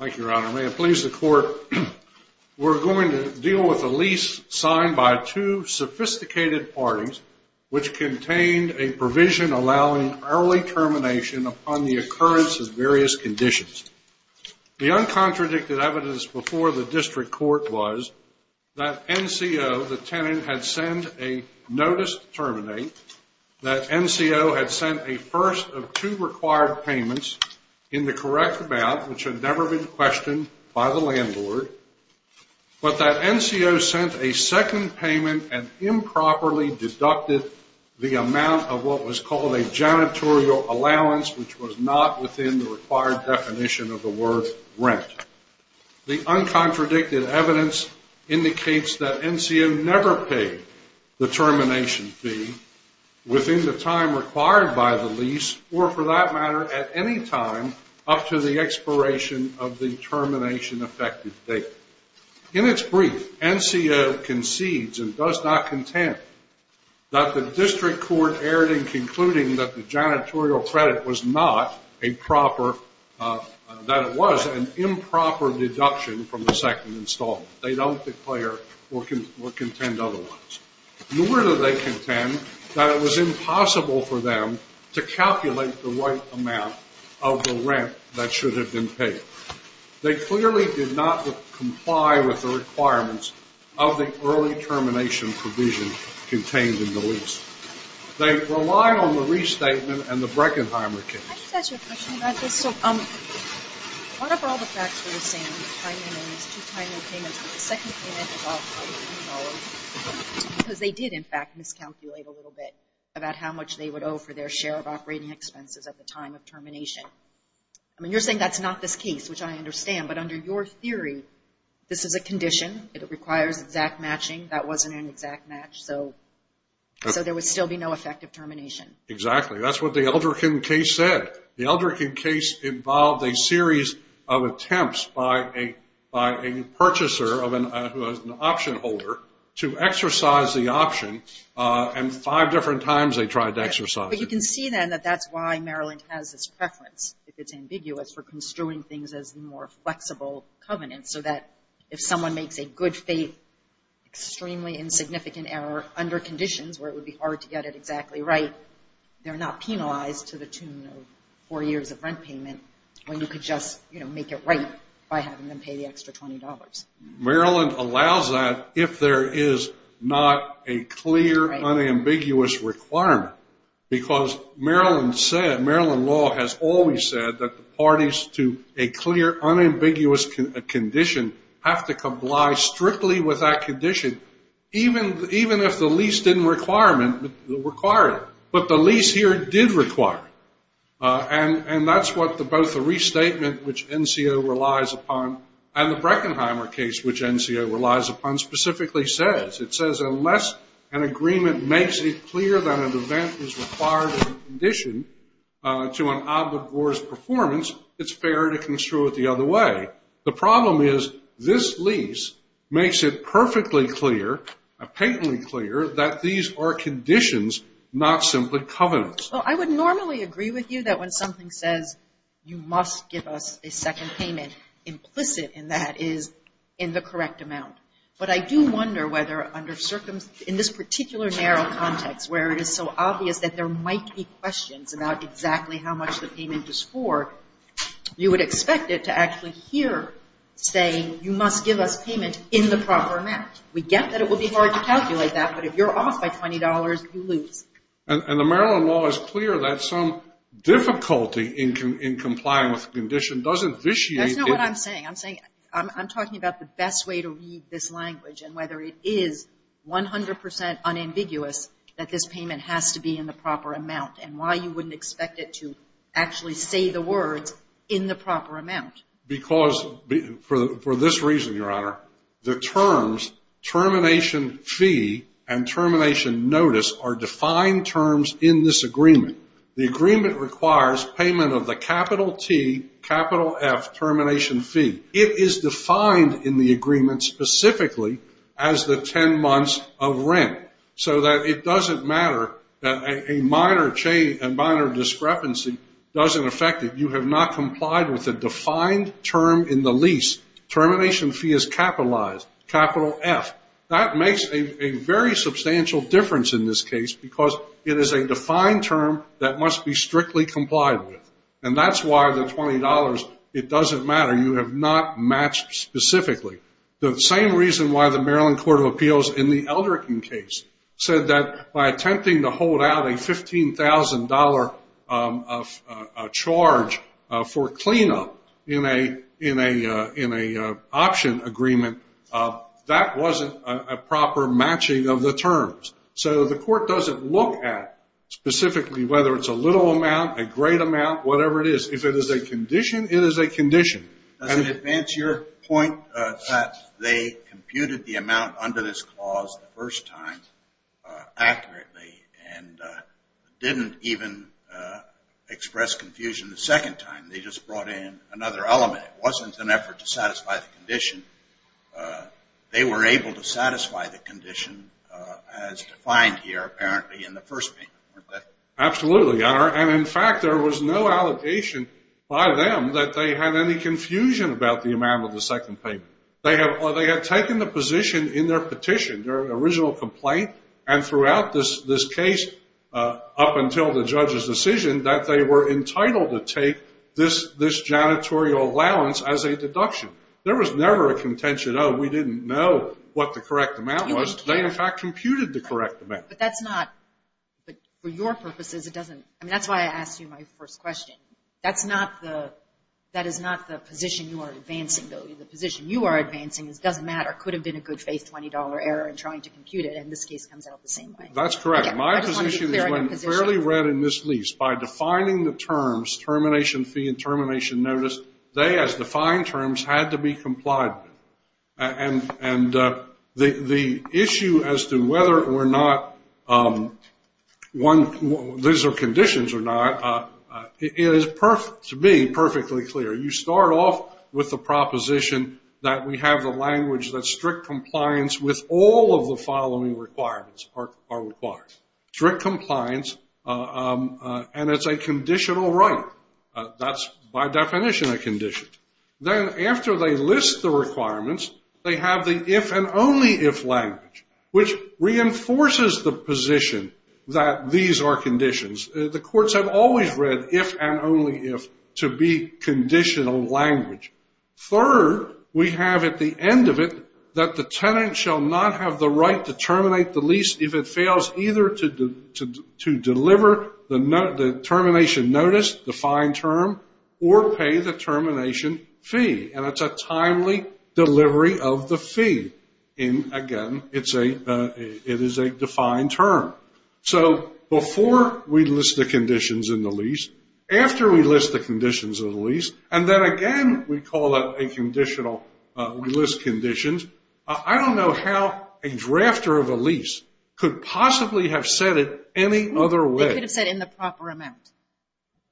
Thank you, Your Honor. May it please the Court, we're going to deal with a lease signed by two sophisticated parties which contained a provision allowing early termination upon the occurrence of various conditions. The uncontradicted evidence before the district court was that NCO, the tenant, had sent a notice to terminate, that NCO had sent a first of two required payments in the correct amount which had never been questioned by the landlord, but that NCO sent a second payment and improperly deducted the amount of what was called a janitorial allowance which was not within the required definition of the word rent. The uncontradicted evidence indicates that NCO never paid the termination fee within the time required by the lease or for that matter at any time up to the expiration of the termination effective date. In its brief, NCO concedes and does not contend that the district court erred in concluding that the janitorial credit was not a proper, that it was an improper deduction from the second installment. They don't declare or contend otherwise. Nor do they contend that it was impossible for them to calculate the right amount of the rent that should have been paid. They clearly did not comply with the requirements of the early termination provision contained in the lease. They rely on the restatement and the Breckenheimer case. Can I just ask you a question about this? Out of all the facts we're seeing, the timing of these two timely payments, the second payment is $1,000 because they did in fact miscalculate a little bit about how much they would owe for their share of operating expenses at the time of termination. I mean, you're saying that's not this case, which I understand, but under your theory, this is a condition. It requires exact matching. That wasn't an exact match, so there would still be no effective termination. Exactly. That's what the Elderkin case said. The Elderkin case involved a series of attempts by a purchaser who was an option holder to exercise the option, and five different times they tried to exercise it. But you can see then that that's why Maryland has this preference, if it's ambiguous, for construing things as more flexible covenants so that if someone makes a good faith, extremely insignificant error under conditions where it would be hard to get it exactly right, they're not penalized to the tune of four years of rent payment when you could just, you know, make it right by having them pay the extra $20. Maryland allows that if there is not a clear, unambiguous requirement. Because Maryland said, Maryland law has always said that the parties to a clear, unambiguous condition have to comply strictly with that condition, even if the lease didn't require it. But the lease here did require it. And that's what both the restatement, which NCO relies upon, and the Breckenheimer case, which NCO relies upon, specifically says. It says unless an agreement makes it clear that an event is required in addition to an obligor's performance, it's fair to construe it the other way. The problem is this lease makes it perfectly clear, patently clear that these are conditions, not simply covenants. Well, I would normally agree with you that when something says, you must give us a second payment, implicit in that is in the correct amount. But I do wonder whether under circumstance, in this particular narrow context, where it is so obvious that there might be questions about exactly how much the payment is for, you would expect it to actually hear, say, you must give us payment in the proper amount. We get that it would be hard to calculate that, but if you're off by $20, you lose. And the Maryland law is clear that some difficulty in complying with the condition doesn't vitiate it. That's not what I'm saying. I'm talking about the best way to read this language and whether it is 100% unambiguous that this payment has to be in the proper amount and why you wouldn't expect it to actually say the words in the proper amount. Because for this reason, Your Honor, the terms termination fee and termination notice are defined terms in this agreement. The agreement requires payment of the capital T, capital F termination fee. It is defined in the agreement specifically as the 10 months of rent, so that it doesn't matter that a minor change and minor discrepancy doesn't affect it. You have not complied with a defined term in the lease. Termination fee is capitalized, capital F. That makes a very substantial difference in this case because it is a defined term that must be strictly complied with. And that's why the $20, it doesn't matter. You have not matched specifically. The same reason why the Maryland Court of Appeals in the Eldrickon case said that by attempting to hold out a $15,000 charge for cleanup in an option agreement, that wasn't a proper matching of the terms. So the court doesn't look at specifically whether it's a little amount, a great amount, whatever it is. If it is a condition, it is a condition. Does it advance your point that they computed the amount under this clause the first time accurately and didn't even express confusion the second time? They just brought in another element. It wasn't an effort to satisfy the condition. They were able to satisfy the condition as defined here apparently in the first payment, weren't they? Absolutely, Your Honor. And, in fact, there was no allegation by them that they had any confusion about the amount of the second payment. They had taken the position in their petition, their original complaint, and throughout this case up until the judge's decision that they were entitled to take this janitorial allowance as a deduction. There was never a contention, oh, we didn't know what the correct amount was. They, in fact, computed the correct amount. But that's not, for your purposes, it doesn't, I mean, that's why I asked you my first question. That's not the, that is not the position you are advancing, though. The position you are advancing is it doesn't matter. It could have been a good-faith $20 error in trying to compute it, and this case comes out the same way. That's correct. My position is when fairly read in this lease, by defining the terms, termination fee and termination notice, they, as defined terms, had to be complied with. And the issue as to whether or not one, these are conditions or not, it is, to me, perfectly clear. You start off with the proposition that we have the language that strict compliance with all of the following requirements are required. Strict compliance, and it's a conditional right. That's, by definition, a condition. Then after they list the requirements, they have the if and only if language, which reinforces the position that these are conditions. The courts have always read if and only if to be conditional language. Third, we have at the end of it that the tenant shall not have the right to terminate the lease if it fails either to deliver the termination notice, the fine term, or pay the termination fee. And it's a timely delivery of the fee. And, again, it is a defined term. So before we list the conditions in the lease, after we list the conditions in the lease, and then again we call it a conditional, we list conditions. I don't know how a drafter of a lease could possibly have said it any other way. They could have said in the proper amount.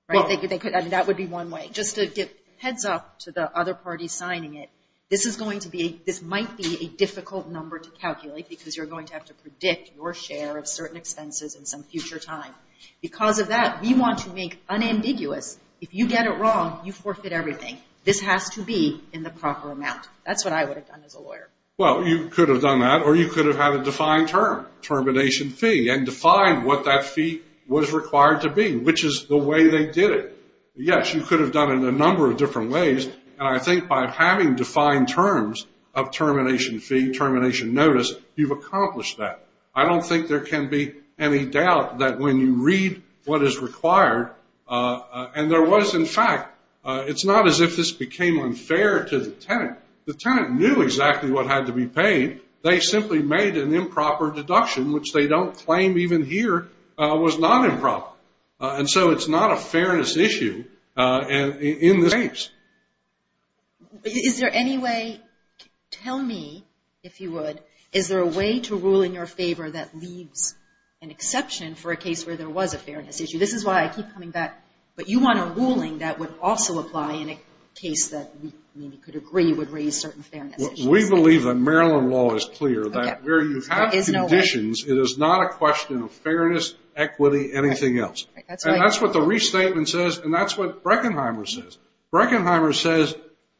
That would be one way. Just to give heads up to the other parties signing it, this might be a difficult number to calculate because you're going to have to predict your share of certain expenses in some future time. Because of that, we want to make unambiguous, if you get it wrong, you forfeit everything. This has to be in the proper amount. That's what I would have done as a lawyer. Well, you could have done that, or you could have had a defined term, termination fee, and defined what that fee was required to be, which is the way they did it. Yes, you could have done it a number of different ways. And I think by having defined terms of termination fee, termination notice, you've accomplished that. I don't think there can be any doubt that when you read what is required, and there was, in fact, it's not as if this became unfair to the tenant. The tenant knew exactly what had to be paid. They simply made an improper deduction, which they don't claim even here was not improper. And so it's not a fairness issue in this case. Is there any way, tell me, if you would, is there a way to rule in your favor that leaves an exception for a case where there was a fairness issue? This is why I keep coming back. But you want a ruling that would also apply in a case that we could agree would raise certain fairness issues. We believe that Maryland law is clear that where you have conditions, it is not a question of fairness, equity, anything else. And that's what the restatement says, and that's what Breckenheimer says. Breckenheimer says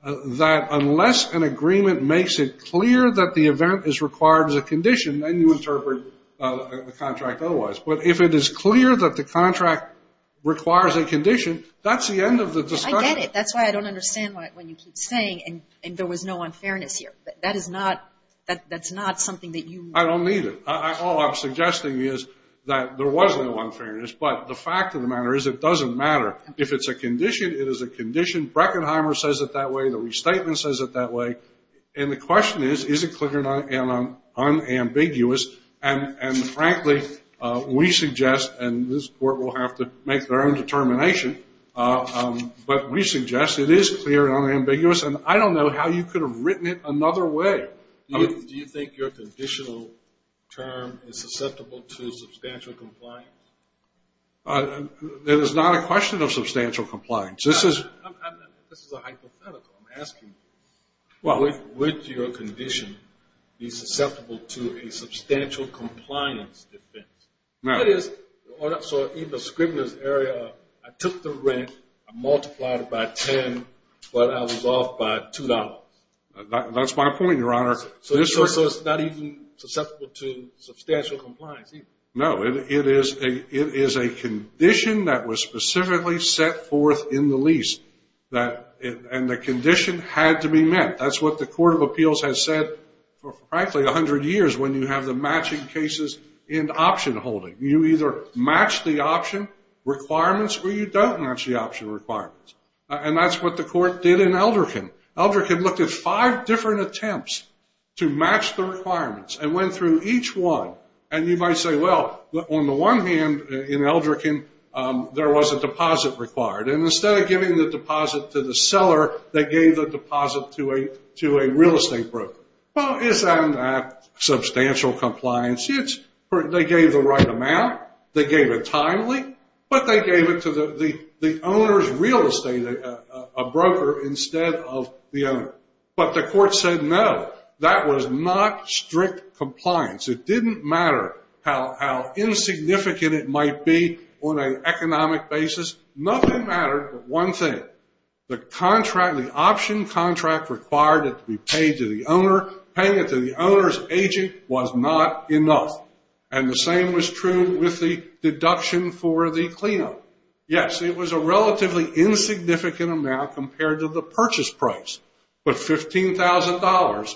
that unless an agreement makes it clear that the event is required as a condition, then you interpret the contract otherwise. But if it is clear that the contract requires a condition, that's the end of the discussion. I get it. That's why I don't understand when you keep saying there was no unfairness here. That is not something that you. I don't either. All I'm suggesting is that there was no unfairness, but the fact of the matter is it doesn't matter. If it's a condition, it is a condition. Breckenheimer says it that way. The restatement says it that way. And the question is, is it clear and unambiguous? And, frankly, we suggest, and this Court will have to make their own determination, but we suggest it is clear and unambiguous, and I don't know how you could have written it another way. Do you think your conditional term is susceptible to substantial compliance? That is not a question of substantial compliance. This is a hypothetical. I'm asking would your condition be susceptible to a substantial compliance defense? So in the scrivener's area, I took the rent, I multiplied it by 10, but I was off by $2. That's my point, Your Honor. So it's not even susceptible to substantial compliance? No. It is a condition that was specifically set forth in the lease, and the condition had to be met. That's what the Court of Appeals has said for, frankly, 100 years, when you have the matching cases in the option holding. You either match the option requirements or you don't match the option requirements, and that's what the Court did in Eldrickon. Eldrickon looked at five different attempts to match the requirements and went through each one, and you might say, well, on the one hand, in Eldrickon, there was a deposit required, and instead of giving the deposit to the seller, they gave the deposit to a real estate broker. Well, isn't that substantial compliance? They gave the right amount, they gave it timely, but they gave it to the owner's real estate broker instead of the owner. But the Court said, no, that was not strict compliance. It didn't matter how insignificant it might be on an economic basis. Nothing mattered, but one thing, the option contract required it to be paid to the owner. Paying it to the owner's agent was not enough, and the same was true with the deduction for the cleanup. Yes, it was a relatively insignificant amount compared to the purchase price, but $15,000,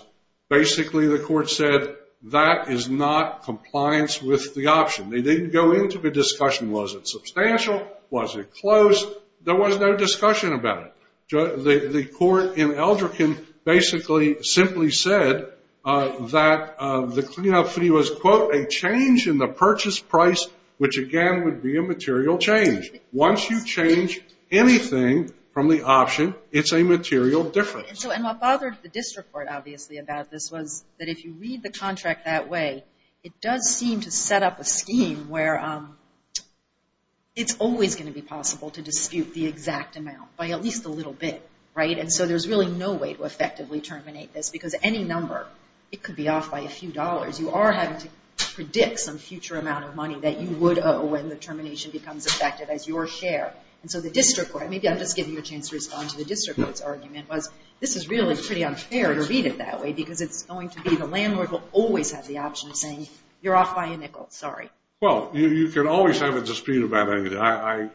basically the Court said that is not compliance with the option. They didn't go into the discussion, was it substantial, was it close? There was no discussion about it. The Court in Eldrickon basically simply said that the cleanup fee was, quote, a change in the purchase price, which, again, would be a material change. Once you change anything from the option, it's a material difference. And what bothered the district court, obviously, about this was that if you read the contract that way, it does seem to set up a scheme where it's always going to be possible to dispute the exact amount by at least a little bit, right? And so there's really no way to effectively terminate this because any number, it could be off by a few dollars. You are having to predict some future amount of money that you would owe when the termination becomes effective as your share. And so the district court, maybe I'm just giving you a chance to respond to the district court's argument, was this is really pretty unfair to read it that way because it's going to be the landlord who will always have the option of saying, you're off by a nickel, sorry. Well, you can always have a dispute about anything. I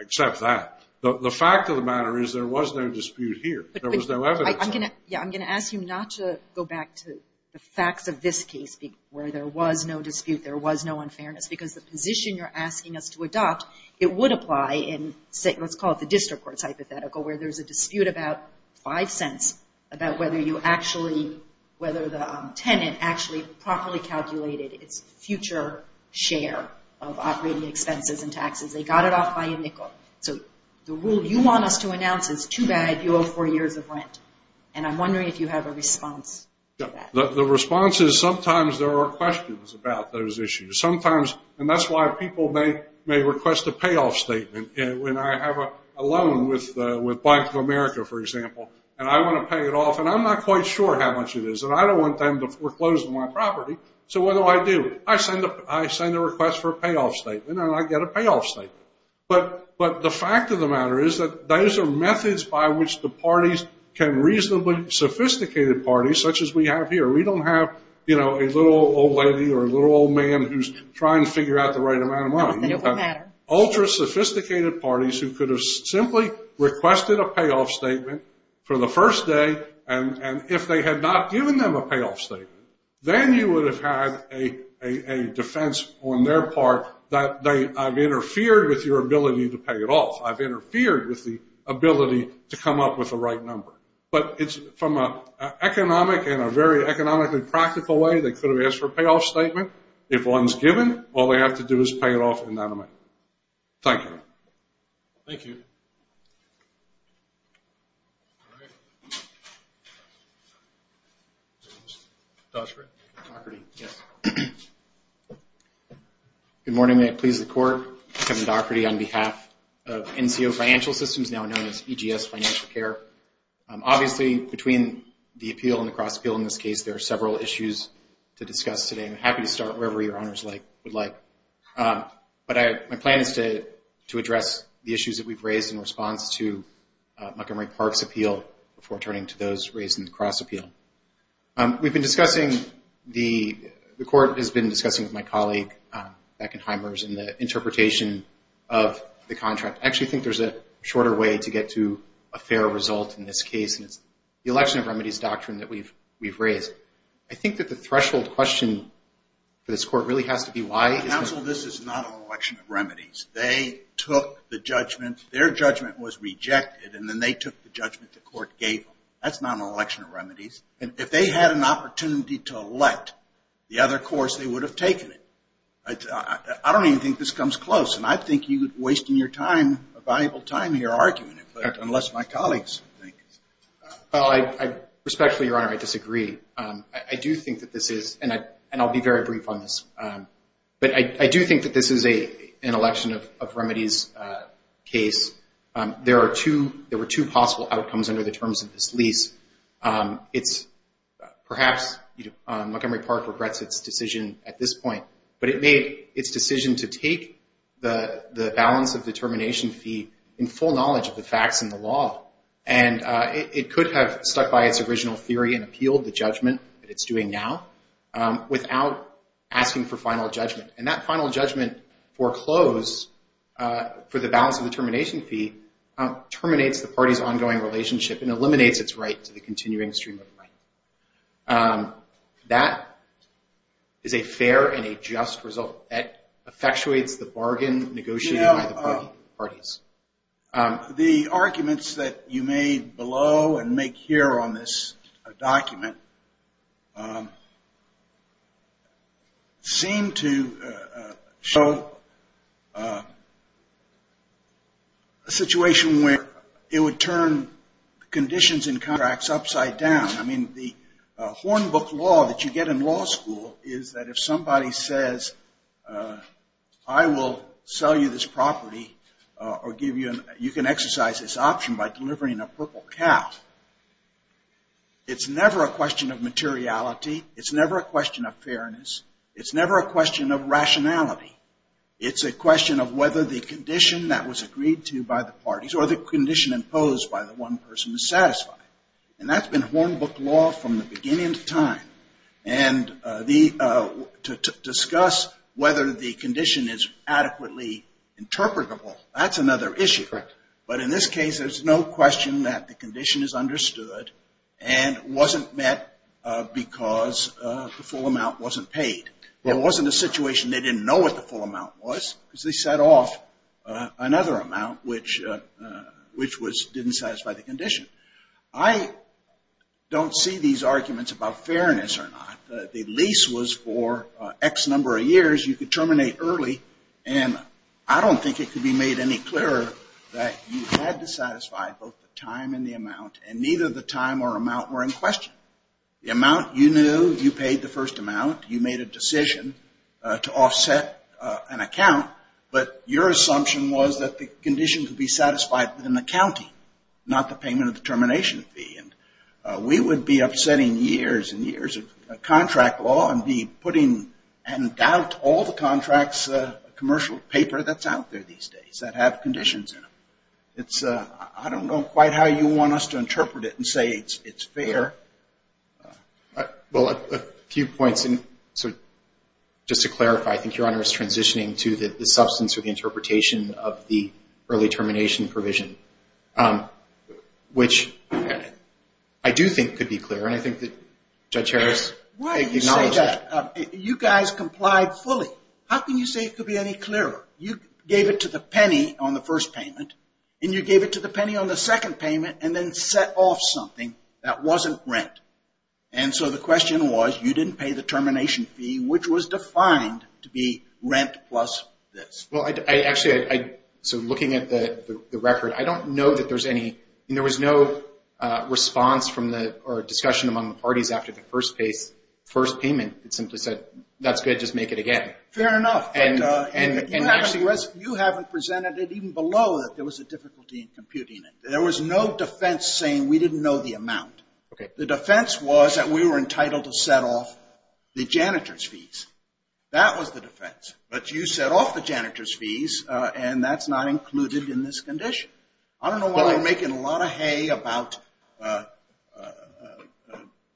accept that. The fact of the matter is there was no dispute here. There was no evidence. Yeah, I'm going to ask you not to go back to the facts of this case where there was no dispute, there was no unfairness because the position you're asking us to adopt, it would apply in, let's call it the district court's hypothetical, where there's a dispute about five cents about whether the tenant actually properly calculated its future share of operating expenses and taxes. They got it off by a nickel. So the rule you want us to announce is too bad, you owe four years of rent. And I'm wondering if you have a response to that. The response is sometimes there are questions about those issues. Sometimes, and that's why people may request a payoff statement. When I have a loan with Bank of America, for example, and I want to pay it off, and I'm not quite sure how much it is, and I don't want them to foreclose on my property. So what do I do? I send a request for a payoff statement, and I get a payoff statement. But the fact of the matter is that those are methods by which the parties can reasonably sophisticated parties, such as we have here. We don't have, you know, a little old lady or a little old man who's trying to figure out the right amount of money. You have ultra-sophisticated parties who could have simply requested a payoff statement for the first day, and if they had not given them a payoff statement, then you would have had a defense on their part that I've interfered with your ability to pay it off. I've interfered with the ability to come up with the right number. But from an economic and a very economically practical way, they could have asked for a payoff statement. If one's given, all they have to do is pay it off anonymously. Thank you. Thank you. Good morning. May it please the Court. Kevin Dougherty on behalf of NCO Financial Systems, now known as EGS Financial Care. Obviously, between the appeal and the cross-appeal in this case, there are several issues to discuss today. I'm happy to start wherever your honors would like. But my plan is to address the issues that we've raised in response to Montgomery Park's appeal before turning to those raised in the cross-appeal. We've been discussing, the Court has been discussing with my colleague, Beckenheimers, in the interpretation of the contract. I actually think there's a shorter way to get to a fair result in this case, and it's the election of remedies doctrine that we've raised. I think that the threshold question for this Court really has to be why. Counsel, this is not an election of remedies. They took the judgment. Their judgment was rejected, and then they took the judgment the Court gave them. That's not an election of remedies. If they had an opportunity to elect the other course, they would have taken it. I don't even think this comes close, and I think you're wasting your time, valuable time here arguing it, unless my colleagues think. Well, respectfully, Your Honor, I disagree. I do think that this is, and I'll be very brief on this, but I do think that this is an election of remedies case. There were two possible outcomes under the terms of this lease. Perhaps Montgomery Park regrets its decision at this point, but it made its decision to take the balance of determination fee in full knowledge of the facts and the law, and it could have stuck by its original theory and appealed the judgment that it's doing now without asking for final judgment, and that final judgment foreclosed for the balance of determination fee terminates the party's ongoing relationship and eliminates its right to the continuing stream of right. That is a fair and a just result. So that effectuates the bargain negotiated by the parties. The arguments that you made below and make here on this document seem to show a situation where it would turn conditions in contracts upside down. I mean, the hornbook law that you get in law school is that if somebody says, I will sell you this property or you can exercise this option by delivering a purple cow, it's never a question of materiality. It's never a question of fairness. It's never a question of rationality. It's a question of whether the condition that was agreed to by the parties or the condition imposed by the one person is satisfied, and that's been hornbook law from the beginning of time. And to discuss whether the condition is adequately interpretable, that's another issue. But in this case, there's no question that the condition is understood and wasn't met because the full amount wasn't paid. It wasn't a situation they didn't know what the full amount was because they set off another amount which didn't satisfy the condition. I don't see these arguments about fairness or not. The lease was for X number of years. You could terminate early, and I don't think it could be made any clearer that you had to satisfy both the time and the amount, and neither the time or amount were in question. The amount you knew, you paid the first amount. You made a decision to offset an account, but your assumption was that the condition could be satisfied within the county, not the payment of the termination fee. And we would be upsetting years and years of contract law and be putting in doubt all the contracts, commercial paper that's out there these days that have conditions in them. I don't know quite how you want us to interpret it and say it's fair. Well, a few points. So just to clarify, I think Your Honor is transitioning to the substance of the interpretation of the early termination provision, which I do think could be clear, and I think that Judge Harris acknowledged that. Why do you say that? You guys complied fully. How can you say it could be any clearer? You gave it to the penny on the first payment, and you gave it to the penny on the second payment and then set off something that wasn't rent. And so the question was you didn't pay the termination fee, which was defined to be rent plus this. Well, actually, so looking at the record, I don't know that there's any – there was no response or discussion among the parties after the first payment that simply said that's good, just make it again. Fair enough. And actually, you haven't presented it even below that there was a difficulty in computing it. There was no defense saying we didn't know the amount. Okay. The defense was that we were entitled to set off the janitor's fees. That was the defense. But you set off the janitor's fees, and that's not included in this condition. I don't know why we're making a lot of hay about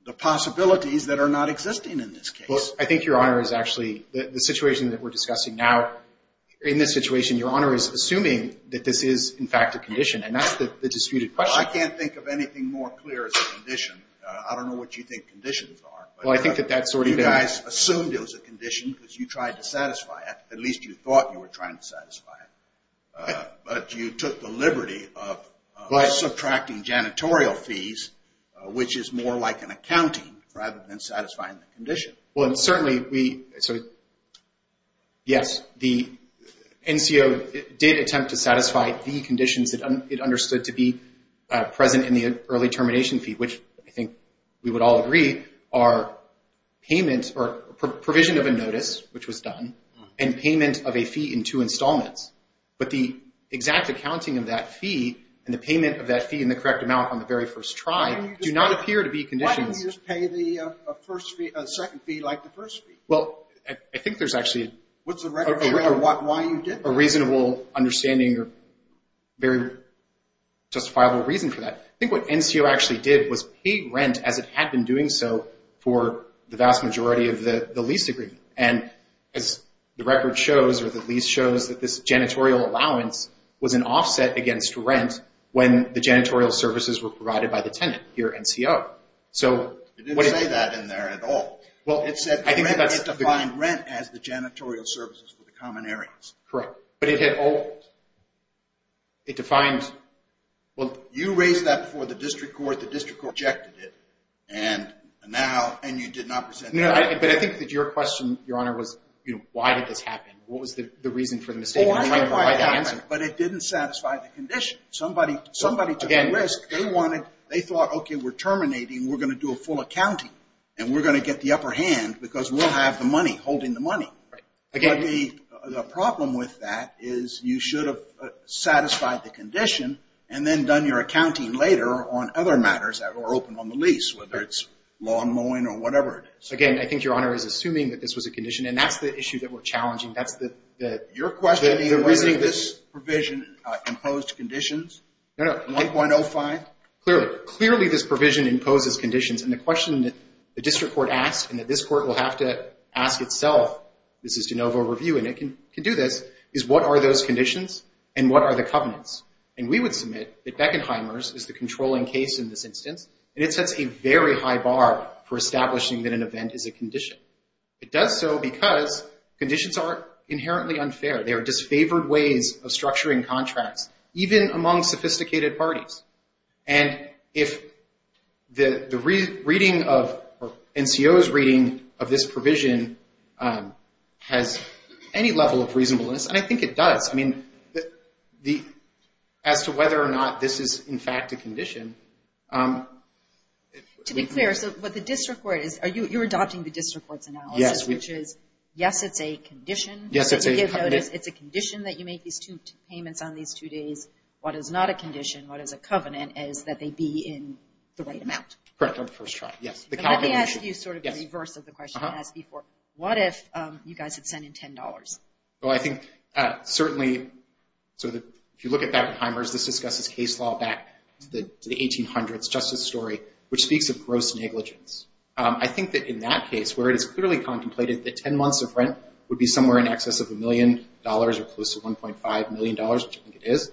the possibilities that are not existing in this case. Well, I think Your Honor is actually – the situation that we're discussing now, in this situation, Your Honor is assuming that this is, in fact, a condition, and that's the disputed question. Well, I can't think of anything more clear as a condition. I don't know what you think conditions are. Well, I think that that's sort of – You guys assumed it was a condition because you tried to satisfy it. At least you thought you were trying to satisfy it. But you took the liberty of subtracting janitorial fees, which is more like an accounting rather than satisfying the condition. Well, and certainly we – yes, the NCO did attempt to satisfy the conditions it understood to be present in the early termination fee, which I think we would all agree are payment or provision of a notice, which was done, and payment of a fee in two installments. But the exact accounting of that fee and the payment of that fee in the correct amount on the very first try do not appear to be conditions. Why didn't you just pay the second fee like the first fee? Well, I think there's actually a reasonable understanding or very justifiable reason for that. I think what NCO actually did was pay rent as it had been doing so for the vast majority of the lease agreement. And as the record shows or the lease shows that this janitorial allowance was an offset against rent when the janitorial services were provided by the tenant, your NCO. It didn't say that in there at all. It said rent – it defined rent as the janitorial services for the common areas. Correct. But it had all – it defined – Well, you raised that before the district court. The district court rejected it, and now – and you did not present that. No, but I think that your question, Your Honor, was why did this happen? What was the reason for the mistake? Well, I tried to answer it, but it didn't satisfy the condition. Somebody took a risk. They wanted – they thought, okay, we're terminating. We're going to do a full accounting, and we're going to get the upper hand because we'll have the money, holding the money. Right. But the problem with that is you should have satisfied the condition and then done your accounting later on other matters that were open on the lease, whether it's lawn mowing or whatever it is. Again, I think Your Honor is assuming that this was a condition, and that's the issue that we're challenging. That's the – Your question is whether this provision imposed conditions? No, no. 8.05? Clearly. Clearly this provision imposes conditions, and the question that the district court asked and that this court will have to ask itself – this is de novo review, and it can do this – is what are those conditions and what are the covenants? And we would submit that Beckenheimer's is the controlling case in this instance, and it sets a very high bar for establishing that an event is a condition. It does so because conditions are inherently unfair. They are disfavored ways of structuring contracts, even among sophisticated parties. And if the reading of – or NCO's reading of this provision has any level of reasonableness, and I think it does, I mean, as to whether or not this is in fact a condition. To be clear, so what the district court is – you're adopting the district court's analysis, which is, yes, it's a condition to give notice. It's a condition that you make these two payments on these two days. What is not a condition, what is a covenant, is that they be in the right amount. Correct on the first try, yes. Let me ask you sort of the reverse of the question I asked before. What if you guys had sent in $10? Well, I think certainly – so if you look at Beckenheimer's, this discusses case law back to the 1800s justice story, which speaks of gross negligence. I think that in that case, where it is clearly contemplated that 10 months of rent would be somewhere in excess of $1 million or close to $1.5 million, which I think it is,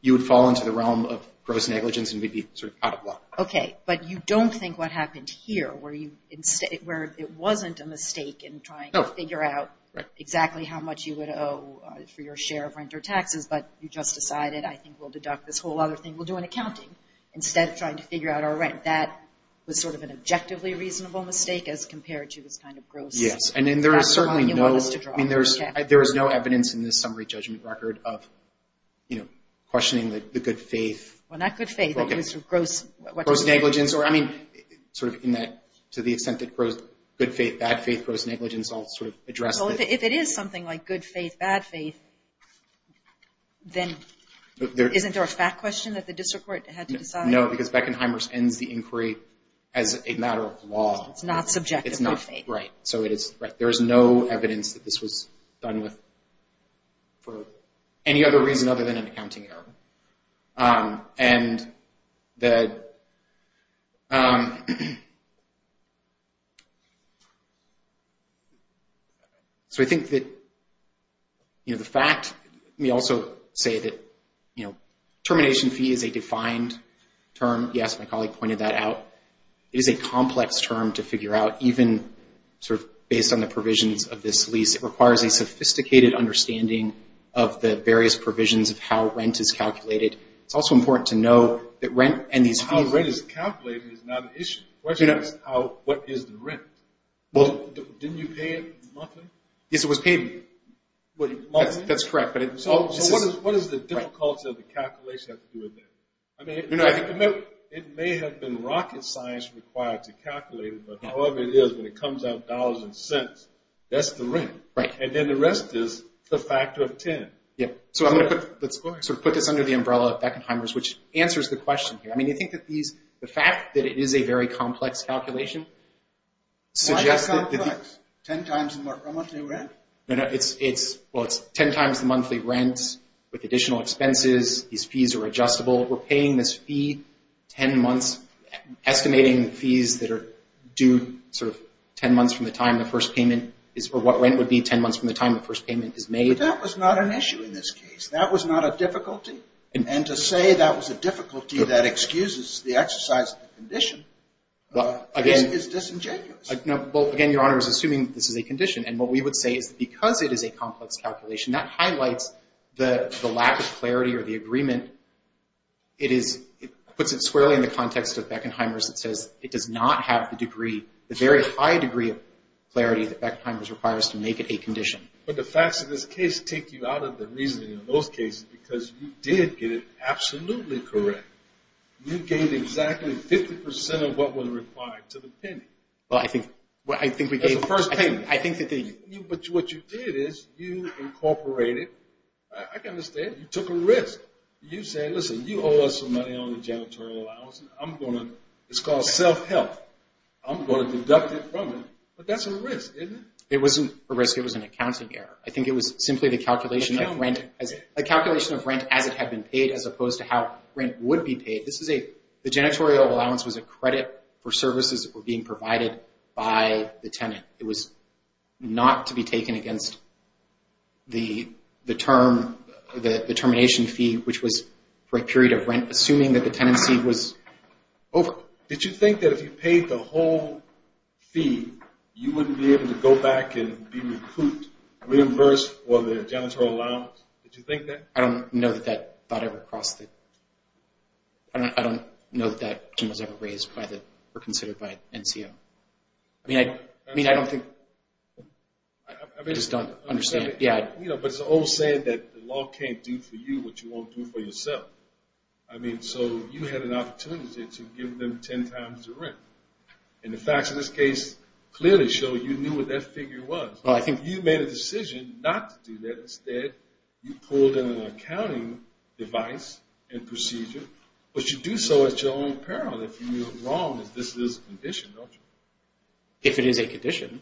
you would fall into the realm of gross negligence and would be sort of out of luck. Okay, but you don't think what happened here, where it wasn't a mistake in trying to figure out exactly how much you would owe for your share of rent or taxes, but you just decided, I think we'll deduct this whole other thing. We'll do an accounting instead of trying to figure out our rent. That was sort of an objectively reasonable mistake as compared to this kind of gross. Yes, and there is certainly no – I mean, there is no evidence in this summary judgment record of, you know, questioning the good faith. Well, not good faith, but it was sort of gross. Gross negligence or, I mean, sort of in that to the extent that good faith, bad faith, gross negligence all sort of addressed it. Well, if it is something like good faith, bad faith, then isn't there a fact question that the district court had to decide? No, because Beckenheimer's ends the inquiry as a matter of law. It's not subjective. It's not, right. So it is – there is no evidence that this was done with for any other reason other than an accounting error. And the – so I think that, you know, the fact – we also say that, you know, termination fee is a defined term. Yes, my colleague pointed that out. It is a complex term to figure out even sort of based on the provisions of this lease. It requires a sophisticated understanding of the various provisions of how rent is calculated. It's also important to know that rent and these fees – How rent is calculated is not an issue. The question is how – what is the rent? Well – Didn't you pay it monthly? Yes, it was paid – Monthly? That's correct, but it's – So what is the difficulty of the calculation that has to do with that? I mean, it may have been rocket science required to calculate it, but however it is, when it Right. And then the rest is the factor of 10. Yes. So I'm going to put – let's sort of put this under the umbrella of Beckenheimer's, which answers the question here. I mean, you think that these – the fact that it is a very complex calculation suggests – Why is it complex? Ten times the monthly rent? No, no. It's – well, it's ten times the monthly rent with additional expenses. These fees are adjustable. We're paying this fee ten months, estimating fees that are due sort of ten months from the time the first payment is – or what rent would be ten months from the time the first payment is made. But that was not an issue in this case. That was not a difficulty. And to say that was a difficulty that excuses the exercise of the condition is disingenuous. Well, again, Your Honor is assuming that this is a condition, and what we would say is that because it is a complex calculation, that highlights the lack of clarity or the agreement. It is – it puts it squarely in the context of Beckenheimer's. It says it does not have the degree – the very high degree of clarity that Beckenheimer's requires to make it a condition. But the facts of this case take you out of the reasoning of those cases because you did get it absolutely correct. You gave exactly 50 percent of what was required to the penny. Well, I think – I think we gave – That's the first thing. I think that the – But what you did is you incorporated – I can understand. You took a risk. You said, listen, you owe us some money on the janitorial allowance, and I'm going to – it's called self-help. I'm going to deduct it from it. But that's a risk, isn't it? It wasn't a risk. It was an accounting error. I think it was simply the calculation of rent as – Accounting. A calculation of rent as it had been paid as opposed to how rent would be paid. This is a – the janitorial allowance was a credit for services that were being provided by the tenant. It was not to be taken against the term – the termination fee, which was for a period of Did you think that if you paid the whole fee, you wouldn't be able to go back and be recouped, reimbursed for the janitorial allowance? Did you think that? I don't know that that thought ever crossed the – I don't know that that question was ever raised by the – or considered by NCO. I mean, I don't think – I just don't understand. Yeah. You know, but it's an old saying that the law can't do for you what you won't do for yourself. I mean, so you had an opportunity to give them ten times the rent. And the facts of this case clearly show you knew what that figure was. Well, I think – You made a decision not to do that. Instead, you pulled in an accounting device and procedure, but you do so at your own peril if you – as long as this is a condition, don't you? If it is a condition.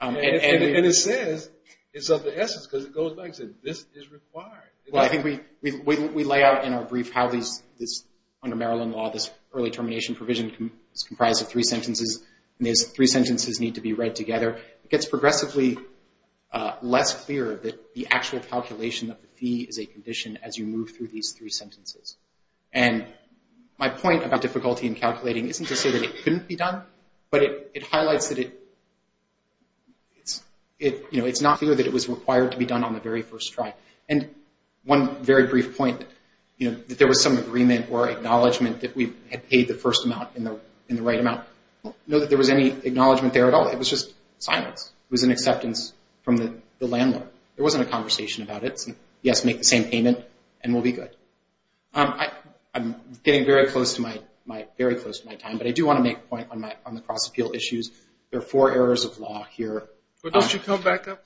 And it says it's of the essence because it goes back and says this is required. Well, I think we lay out in our brief how these – under Maryland law, this early termination provision is comprised of three sentences, and these three sentences need to be read together. It gets progressively less clear that the actual calculation of the fee is a condition as you move through these three sentences. And my point about difficulty in calculating isn't to say that it couldn't be done, but it highlights that it – you know, it's not clear that it was required to be done on the very first try. And one very brief point, you know, that there was some agreement or acknowledgement that we had paid the first amount in the right amount. I don't know that there was any acknowledgement there at all. It was just silence. It was an acceptance from the landlord. There wasn't a conversation about it. He has to make the same payment and we'll be good. I'm getting very close to my – very close to my time, but I do want to make a point on the cross-appeal issues. There are four errors of law here. But don't you come back up?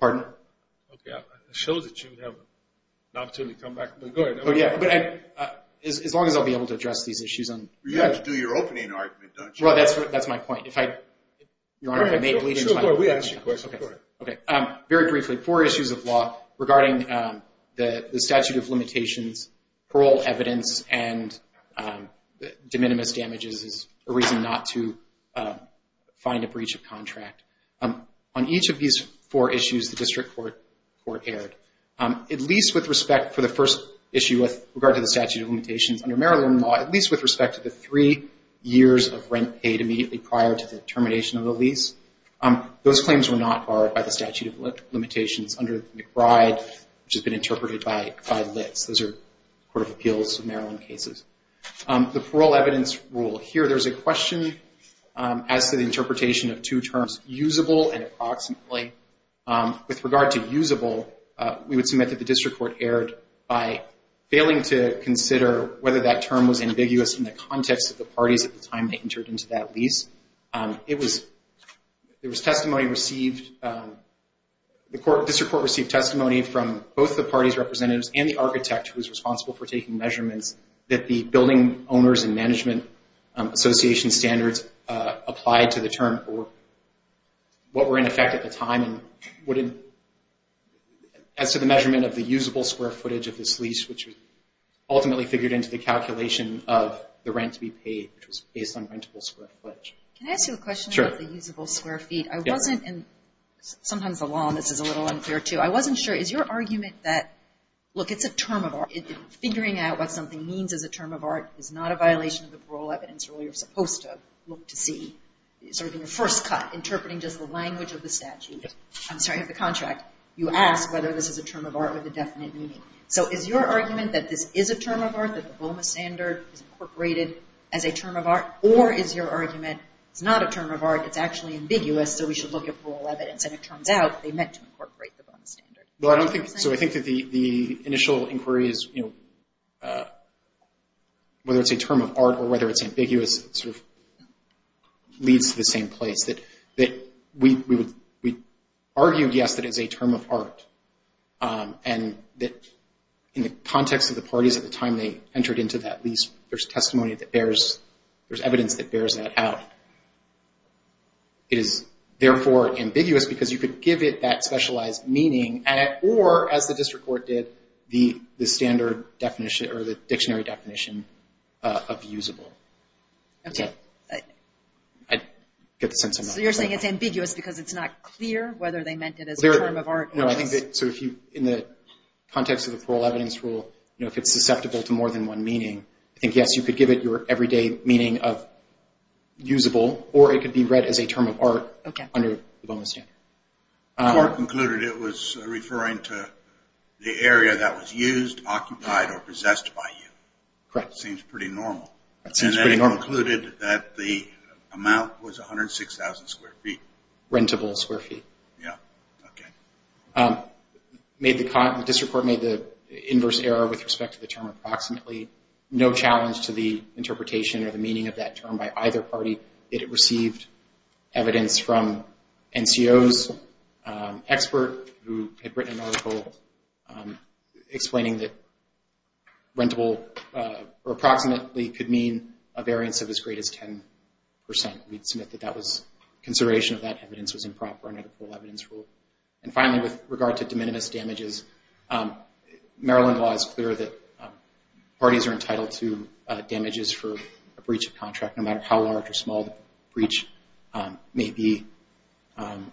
Pardon? Okay. I showed that you would have an opportunity to come back, but go ahead. Oh, yeah. But as long as I'll be able to address these issues on – You have to do your opening argument, don't you? Well, that's my point. If I – Your Honor, if I may – Sure, go ahead. We asked you a question. Go ahead. Okay. Very briefly, four issues of law regarding the statute of limitations, parole evidence, and de minimis damages is a reason not to find a breach of contract. On each of these four issues, the district court erred. At least with respect for the first issue with regard to the statute of limitations under Maryland law, at least with respect to the three years of rent paid immediately prior to the termination of the lease, those claims were not barred by the statute of limitations under McBride, which has been interpreted by Litts. Those are Court of Appeals of Maryland cases. The parole evidence rule. Here, there's a question as to the interpretation of two terms, usable and approximately. With regard to usable, we would submit that the district court erred by failing to consider whether that term was ambiguous in the context of the parties at the time they entered into that lease. It was – There was testimony received – The district court received testimony from both the parties' representatives and the architect who was responsible for taking measurements that the Building Owners and Management Association standards applied to the term or what were in effect at the time. As to the measurement of the usable square footage of this lease, which was ultimately figured into the calculation of the rent to be paid, which was based on rentable square footage. Can I ask you a question about the usable square feet? Sure. I wasn't – and sometimes the law on this is a little unclear, too. I wasn't sure. Is your argument that – look, it's a term of art. Figuring out what something means as a term of art is not a violation of the parole evidence rule. You're supposed to look to see, sort of in your first cut, interpreting just the language of the statute – I'm sorry, of the contract. You ask whether this is a term of art with a definite meaning. So is your argument that this is a term of art, that the BOMA standard is incorporated as a term of art? Or is your argument it's not a term of art, it's actually ambiguous, so we should look at parole evidence, and it turns out they meant to incorporate the BOMA standard? Well, I don't think – so I think that the initial inquiry is, you know, whether it's a term of art or whether it's ambiguous sort of leads to the same place, that we argued, yes, that it is a term of art, and that in the context of the parties at the time they entered into that lease, there's testimony that bears – there's evidence that bears that out. It is, therefore, ambiguous because you could give it that specialized meaning, or, as the district court did, the standard definition or the dictionary definition of usable. Okay. I get the sense I'm not – So you're saying it's ambiguous because it's not clear whether they meant it as a term of art? No, I think that – so if you – in the context of the parole evidence rule, you know, if it's susceptible to more than one meaning, I think, yes, you could give it your everyday meaning of usable, or it could be read as a term of art under the BOMA standard. The court concluded it was referring to the area that was used, occupied, or possessed by you. Correct. Seems pretty normal. Seems pretty normal. And they concluded that the amount was 106,000 square feet. Rentable square feet. Yeah. Okay. The district court made the inverse error with respect to the term approximately. No challenge to the interpretation or the meaning of that term by either party. It received evidence from NCO's expert who had written an article explaining that rentable approximately could mean a variance of as great as 10%. We'd submit that that was consideration of that evidence was improper under the parole evidence rule. And finally, with regard to de minimis damages, Maryland law is clear that parties are entitled to damages for a breach of contract, no matter how large or small the breach may be. And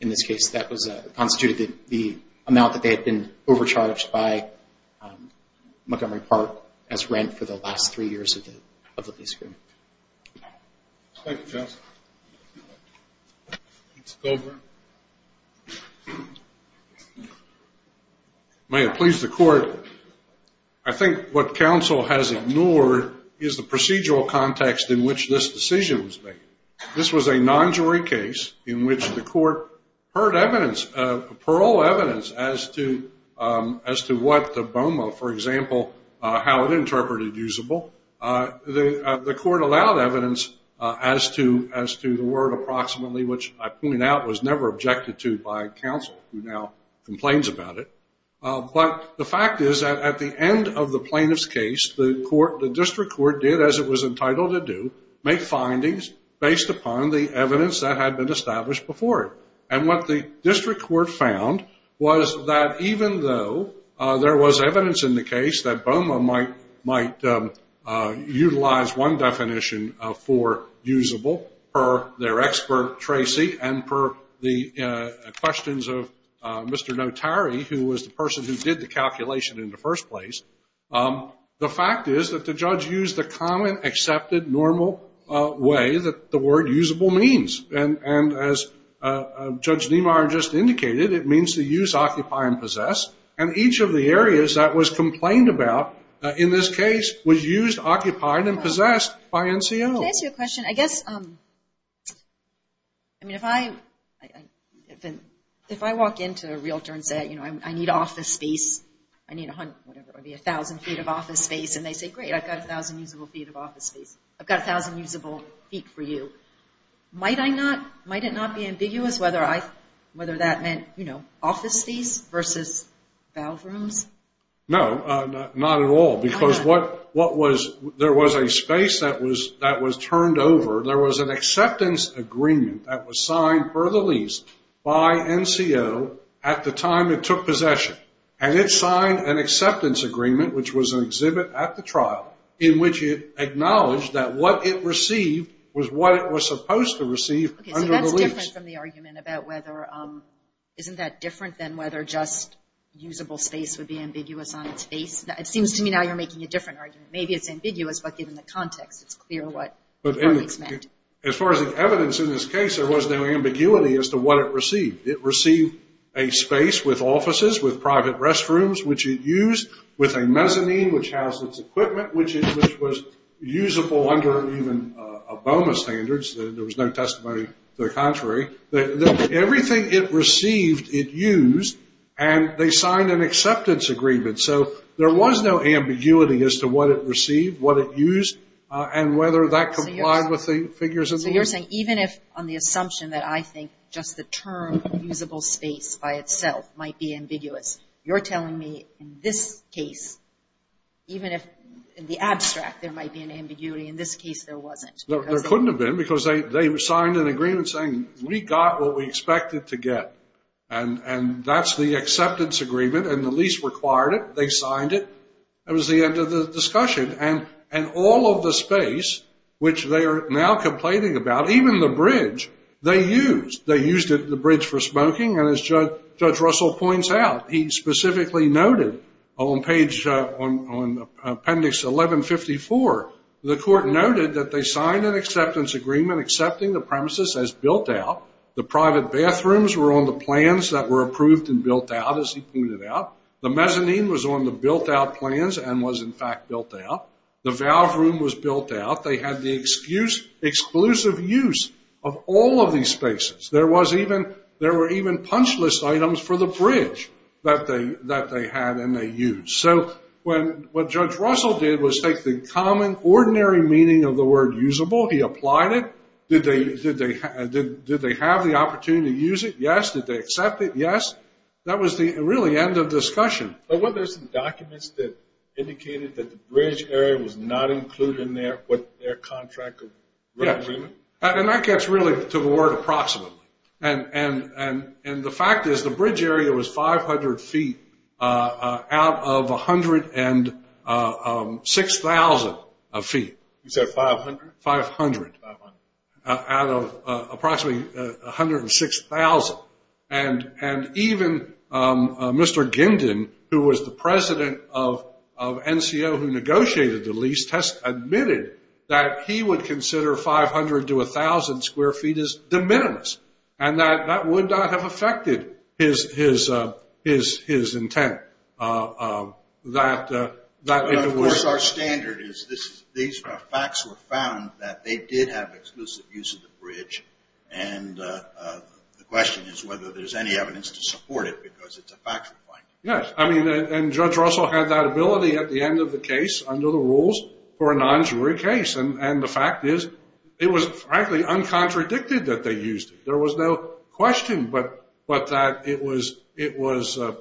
in this case, that constituted the amount that they had been overcharged by Montgomery Park as rent for the last three years of the lease agreement. Thank you, Joseph. Mr. Culver. May it please the court, I think what counsel has ignored is the procedural context in which this decision was made. This was a non-jury case in which the court heard evidence, parole evidence as to what the BOMA, for example, how it interpreted usable. The court allowed evidence as to the word approximately, which I point out was never objected to by counsel who now complains about it. But the fact is that at the end of the plaintiff's case, the district court did as it was entitled to do, make findings based upon the evidence that had been established before. And what the district court found was that even though there was evidence in the case that BOMA might have utilized one definition for usable per their expert, Tracy, and per the questions of Mr. Notari, who was the person who did the calculation in the first place, the fact is that the judge used the common accepted normal way that the word usable means. And as Judge Niemeyer just indicated, it means to use, occupy, and possess. And each of the areas that was complained about in this case was used, occupied, and possessed by NCO. Can I ask you a question? I guess, I mean, if I walk into a realtor and say, you know, I need office space, I need a hundred, whatever it might be, a thousand feet of office space, and they say, great, I've got a thousand usable feet of office space. I've got a thousand usable feet for you. Might I not, might it not be ambiguous whether I, whether that meant, you know, office space versus bathrooms? No, not at all. Because what was, there was a space that was turned over, there was an acceptance agreement that was signed per the lease by NCO at the time it took possession. And it signed an acceptance agreement, which was an exhibit at the trial, in which it acknowledged that what it received was what it was supposed to receive under the lease. Okay, so that's different from the argument about whether, isn't that different than whether just usable space would be ambiguous on its face? It seems to me now you're making a different argument. Maybe it's ambiguous, but given the context, it's clear what it's meant. As far as the evidence in this case, there was no ambiguity as to what it received. It received a space with offices, with private restrooms, which it used, with a mezzanine, which housed its equipment, which was usable under even a BOMA standards. There was no testimony to the contrary. Everything it received, it used, and they signed an acceptance agreement. So there was no ambiguity as to what it received, what it used, and whether that complied with the figures of the lease. So you're saying even if on the assumption that I think just the term usable space by itself might be ambiguous, you're telling me in this case, even if in the abstract there might be an ambiguity, in this case there wasn't. There couldn't have been because they signed an agreement saying we got what we expected to get, and that's the acceptance agreement, and the lease required it. They signed it. That was the end of the discussion, and all of the space, which they are now complaining about, even the bridge, they used. They used the bridge for smoking, and as Judge Russell points out, he specifically noted on page, on appendix 1154, the court noted that they signed an acceptance agreement accepting the premises as built out. The private bathrooms were on the plans that were approved and built out, as he pointed out. The mezzanine was on the built-out plans and was, in fact, built out. The valve room was built out. They had the exclusive use of all of these spaces. There were even punch list items for the bridge that they had and they used. So what Judge Russell did was take the common, ordinary meaning of the word usable. He applied it. Did they have the opportunity to use it? Yes. Did they accept it? Yes. That was really the end of the discussion. But weren't there some documents that indicated that the bridge area was not included in their contract agreement? And that gets really to the word approximately. And the fact is the bridge area was 500 feet out of 106,000 feet. You said 500? 500 out of approximately 106,000. And even Mr. Gindin, who was the president of NCO who negotiated the lease, has admitted that he would consider 500 to 1,000 square feet as de minimis. And that would not have affected his intent. Of course, our standard is these facts were found that they did have exclusive use of the bridge. And the question is whether there's any evidence to support it because it's a factual finding. Yes. I mean, and Judge Russell had that ability at the end of the case under the rules for a non-jury case. And the fact is it was frankly uncontradicted that they used it. There was no question but that it was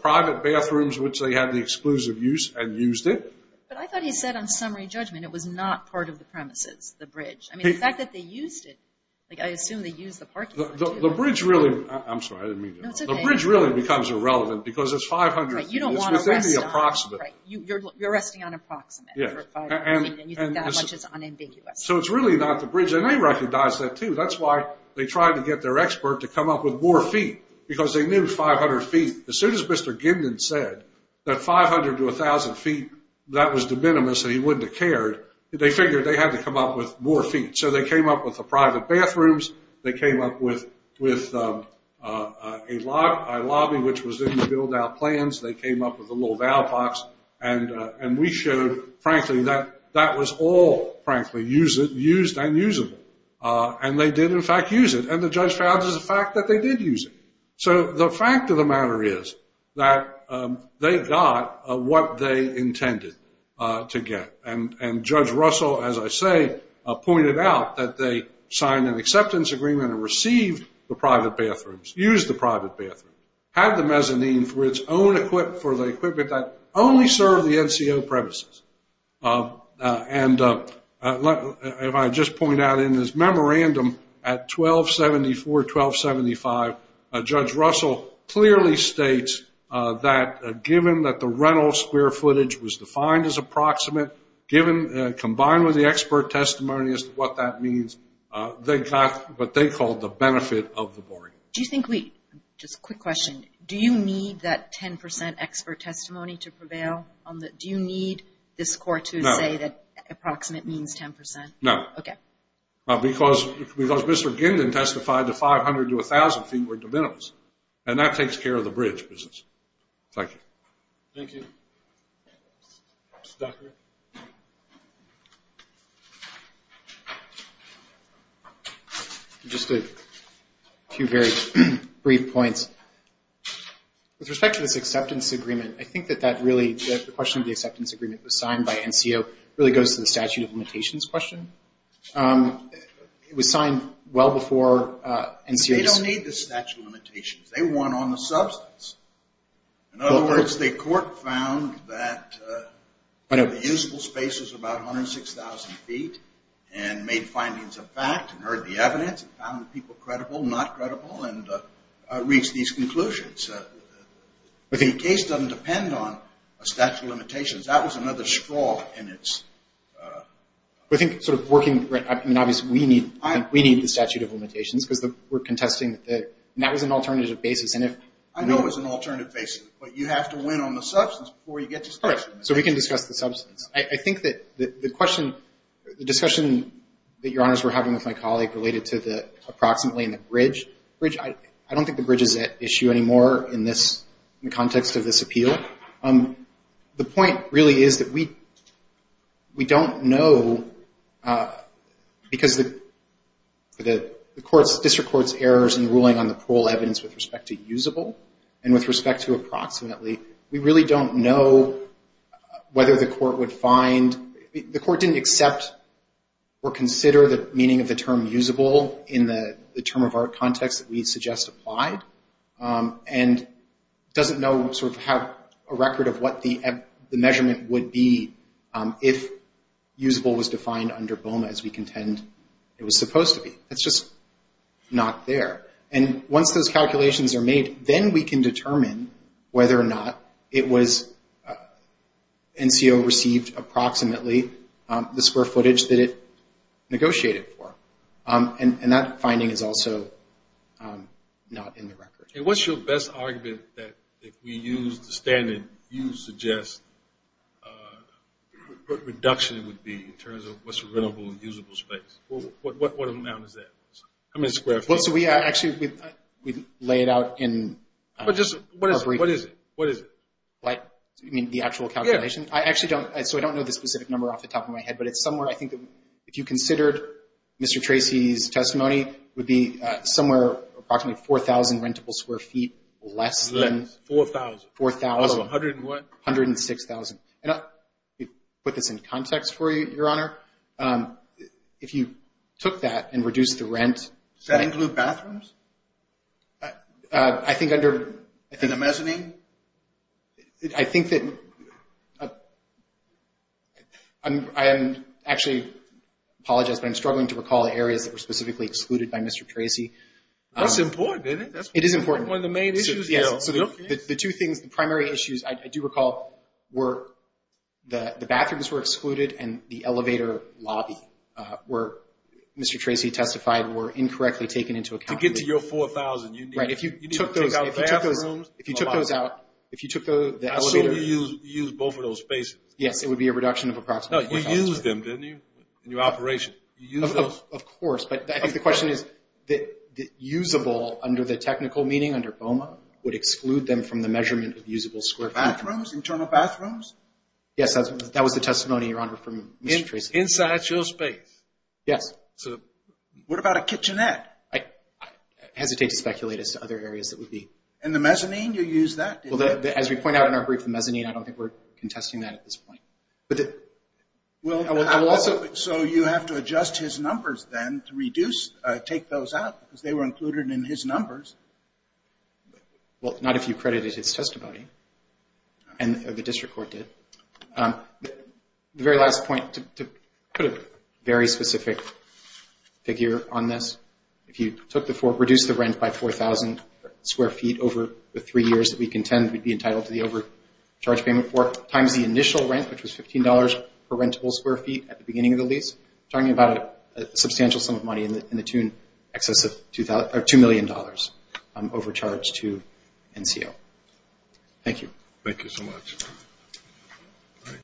private bathrooms which they had the exclusive use and used it. But I thought he said on summary judgment it was not part of the premises, the bridge. I mean, the fact that they used it, like I assume they used the parking lot too. The bridge really becomes irrelevant. Because it's 500 feet. Right. You don't want to rest on it. It's within the approximate. Right. You're resting on approximate. Yes. And you think that much is unambiguous. So it's really not the bridge. And they recognized that too. That's why they tried to get their expert to come up with more feet because they knew 500 feet. As soon as Mr. Gindin said that 500 to 1,000 feet, that was de minimis and he wouldn't have cared, they figured they had to come up with more feet. So they came up with the private bathrooms. They came up with a lobby which was in the build-out plans. They came up with a little valve box. And we showed, frankly, that that was all, frankly, used and usable. And they did, in fact, use it. And the judge found as a fact that they did use it. So the fact of the matter is that they got what they intended to get. And Judge Russell, as I say, pointed out that they signed an acceptance agreement and received the private bathrooms, used the private bathrooms, had the mezzanine for the equipment that only served the NCO premises. And if I just point out in this memorandum at 1274, 1275, Judge Russell clearly states that given that the rental square footage was defined as approximate, combined with the expert testimony as to what that means, they got what they called the benefit of the bargain. Just a quick question. Do you need that 10% expert testimony to prevail? Do you need this court to say that approximate means 10%? No. Okay. Because Mr. Gindin testified that 500 to 1,000 feet were de minimis, and that takes care of the bridge business. Thank you. Thank you. Dr. Just a few very brief points. With respect to this acceptance agreement, I think that that really, the question of the acceptance agreement was signed by NCO, really goes to the statute of limitations question. It was signed well before NCO. They don't need the statute of limitations. They won on the substance. In other words, the court found that the usable space was about 106,000 feet and made findings of fact and heard the evidence and found the people credible, not credible, and reached these conclusions. The case doesn't depend on a statute of limitations. That was another straw in its. I think sort of working, I mean, obviously we need the statute of limitations because we're contesting, and that was an alternative basis. I know it was an alternative basis, but you have to win on the substance before you get to the statute of limitations. So we can discuss the substance. I think that the question, the discussion that Your Honors were having with my colleague related to the approximately and the bridge. I don't think the bridge is at issue anymore in the context of this appeal. The point really is that we don't know because the district court's errors in ruling on the parole evidence with respect to usable and with respect to approximately, we really don't know whether the court would find, the court didn't accept or consider the meaning of the term usable in the term of art context that we suggest applied and doesn't know sort of have a record of what the measurement would be if usable was defined under BOMA as we contend it was supposed to be. It's just not there. And once those calculations are made, then we can determine whether or not it was, NCO received approximately the square footage that it negotiated for. And that finding is also not in the record. And what's your best argument that if we use the standard you suggest, what reduction it would be in terms of what's available in usable space? What amount is that? How many square footage? Well, so we actually, we lay it out in our brief. What is it? What is it? You mean the actual calculation? Yeah. I actually don't, so I don't know the specific number off the top of my head, but it's somewhere, I think, if you considered Mr. Tracy's testimony, would be somewhere approximately 4,000 rentable square feet less than. Less, 4,000. 4,000. Out of 100 and what? 106,000. And I'll put this in context for you, Your Honor. If you took that and reduced the rent. Does that include bathrooms? I think under. In the mezzanine? I think that. I actually apologize, but I'm struggling to recall the areas that were specifically excluded by Mr. Tracy. That's important, isn't it? It is important. One of the main issues. Yes. The two things, the primary issues I do recall were the bathrooms were excluded and the elevator lobby where Mr. Tracy testified were incorrectly taken into account. To get to your 4,000. Right. If you took those out, if you took the elevator. I assume you used both of those spaces. Yes, it would be a reduction of approximately 4,000. No, you used them, didn't you? In your operation. You used those. Of course, but I think the question is that usable under the technical meaning, under BOMA, would exclude them from the measurement of usable square feet. Bathrooms, internal bathrooms? Yes, that was the testimony, Your Honor, from Mr. Tracy. Inside your space? Yes. What about a kitchenette? I hesitate to speculate as to other areas that would be. And the mezzanine, you used that, didn't you? As we point out in our brief, the mezzanine, I don't think we're contesting that at this point. I will also. So you have to adjust his numbers then to reduce, take those out because they were included in his numbers. Well, not if you credited his testimony, and the district court did. The very last point, to put a very specific figure on this, if you reduced the rent by 4,000 square feet over the three years that we contend we'd be entitled to the overcharge payment for, times the initial rent, which was $15 per rentable square feet at the beginning of the lease, talking about a substantial sum of money in the tune, excess of $2 million overcharge to NCO. Thank you. Thank you so much.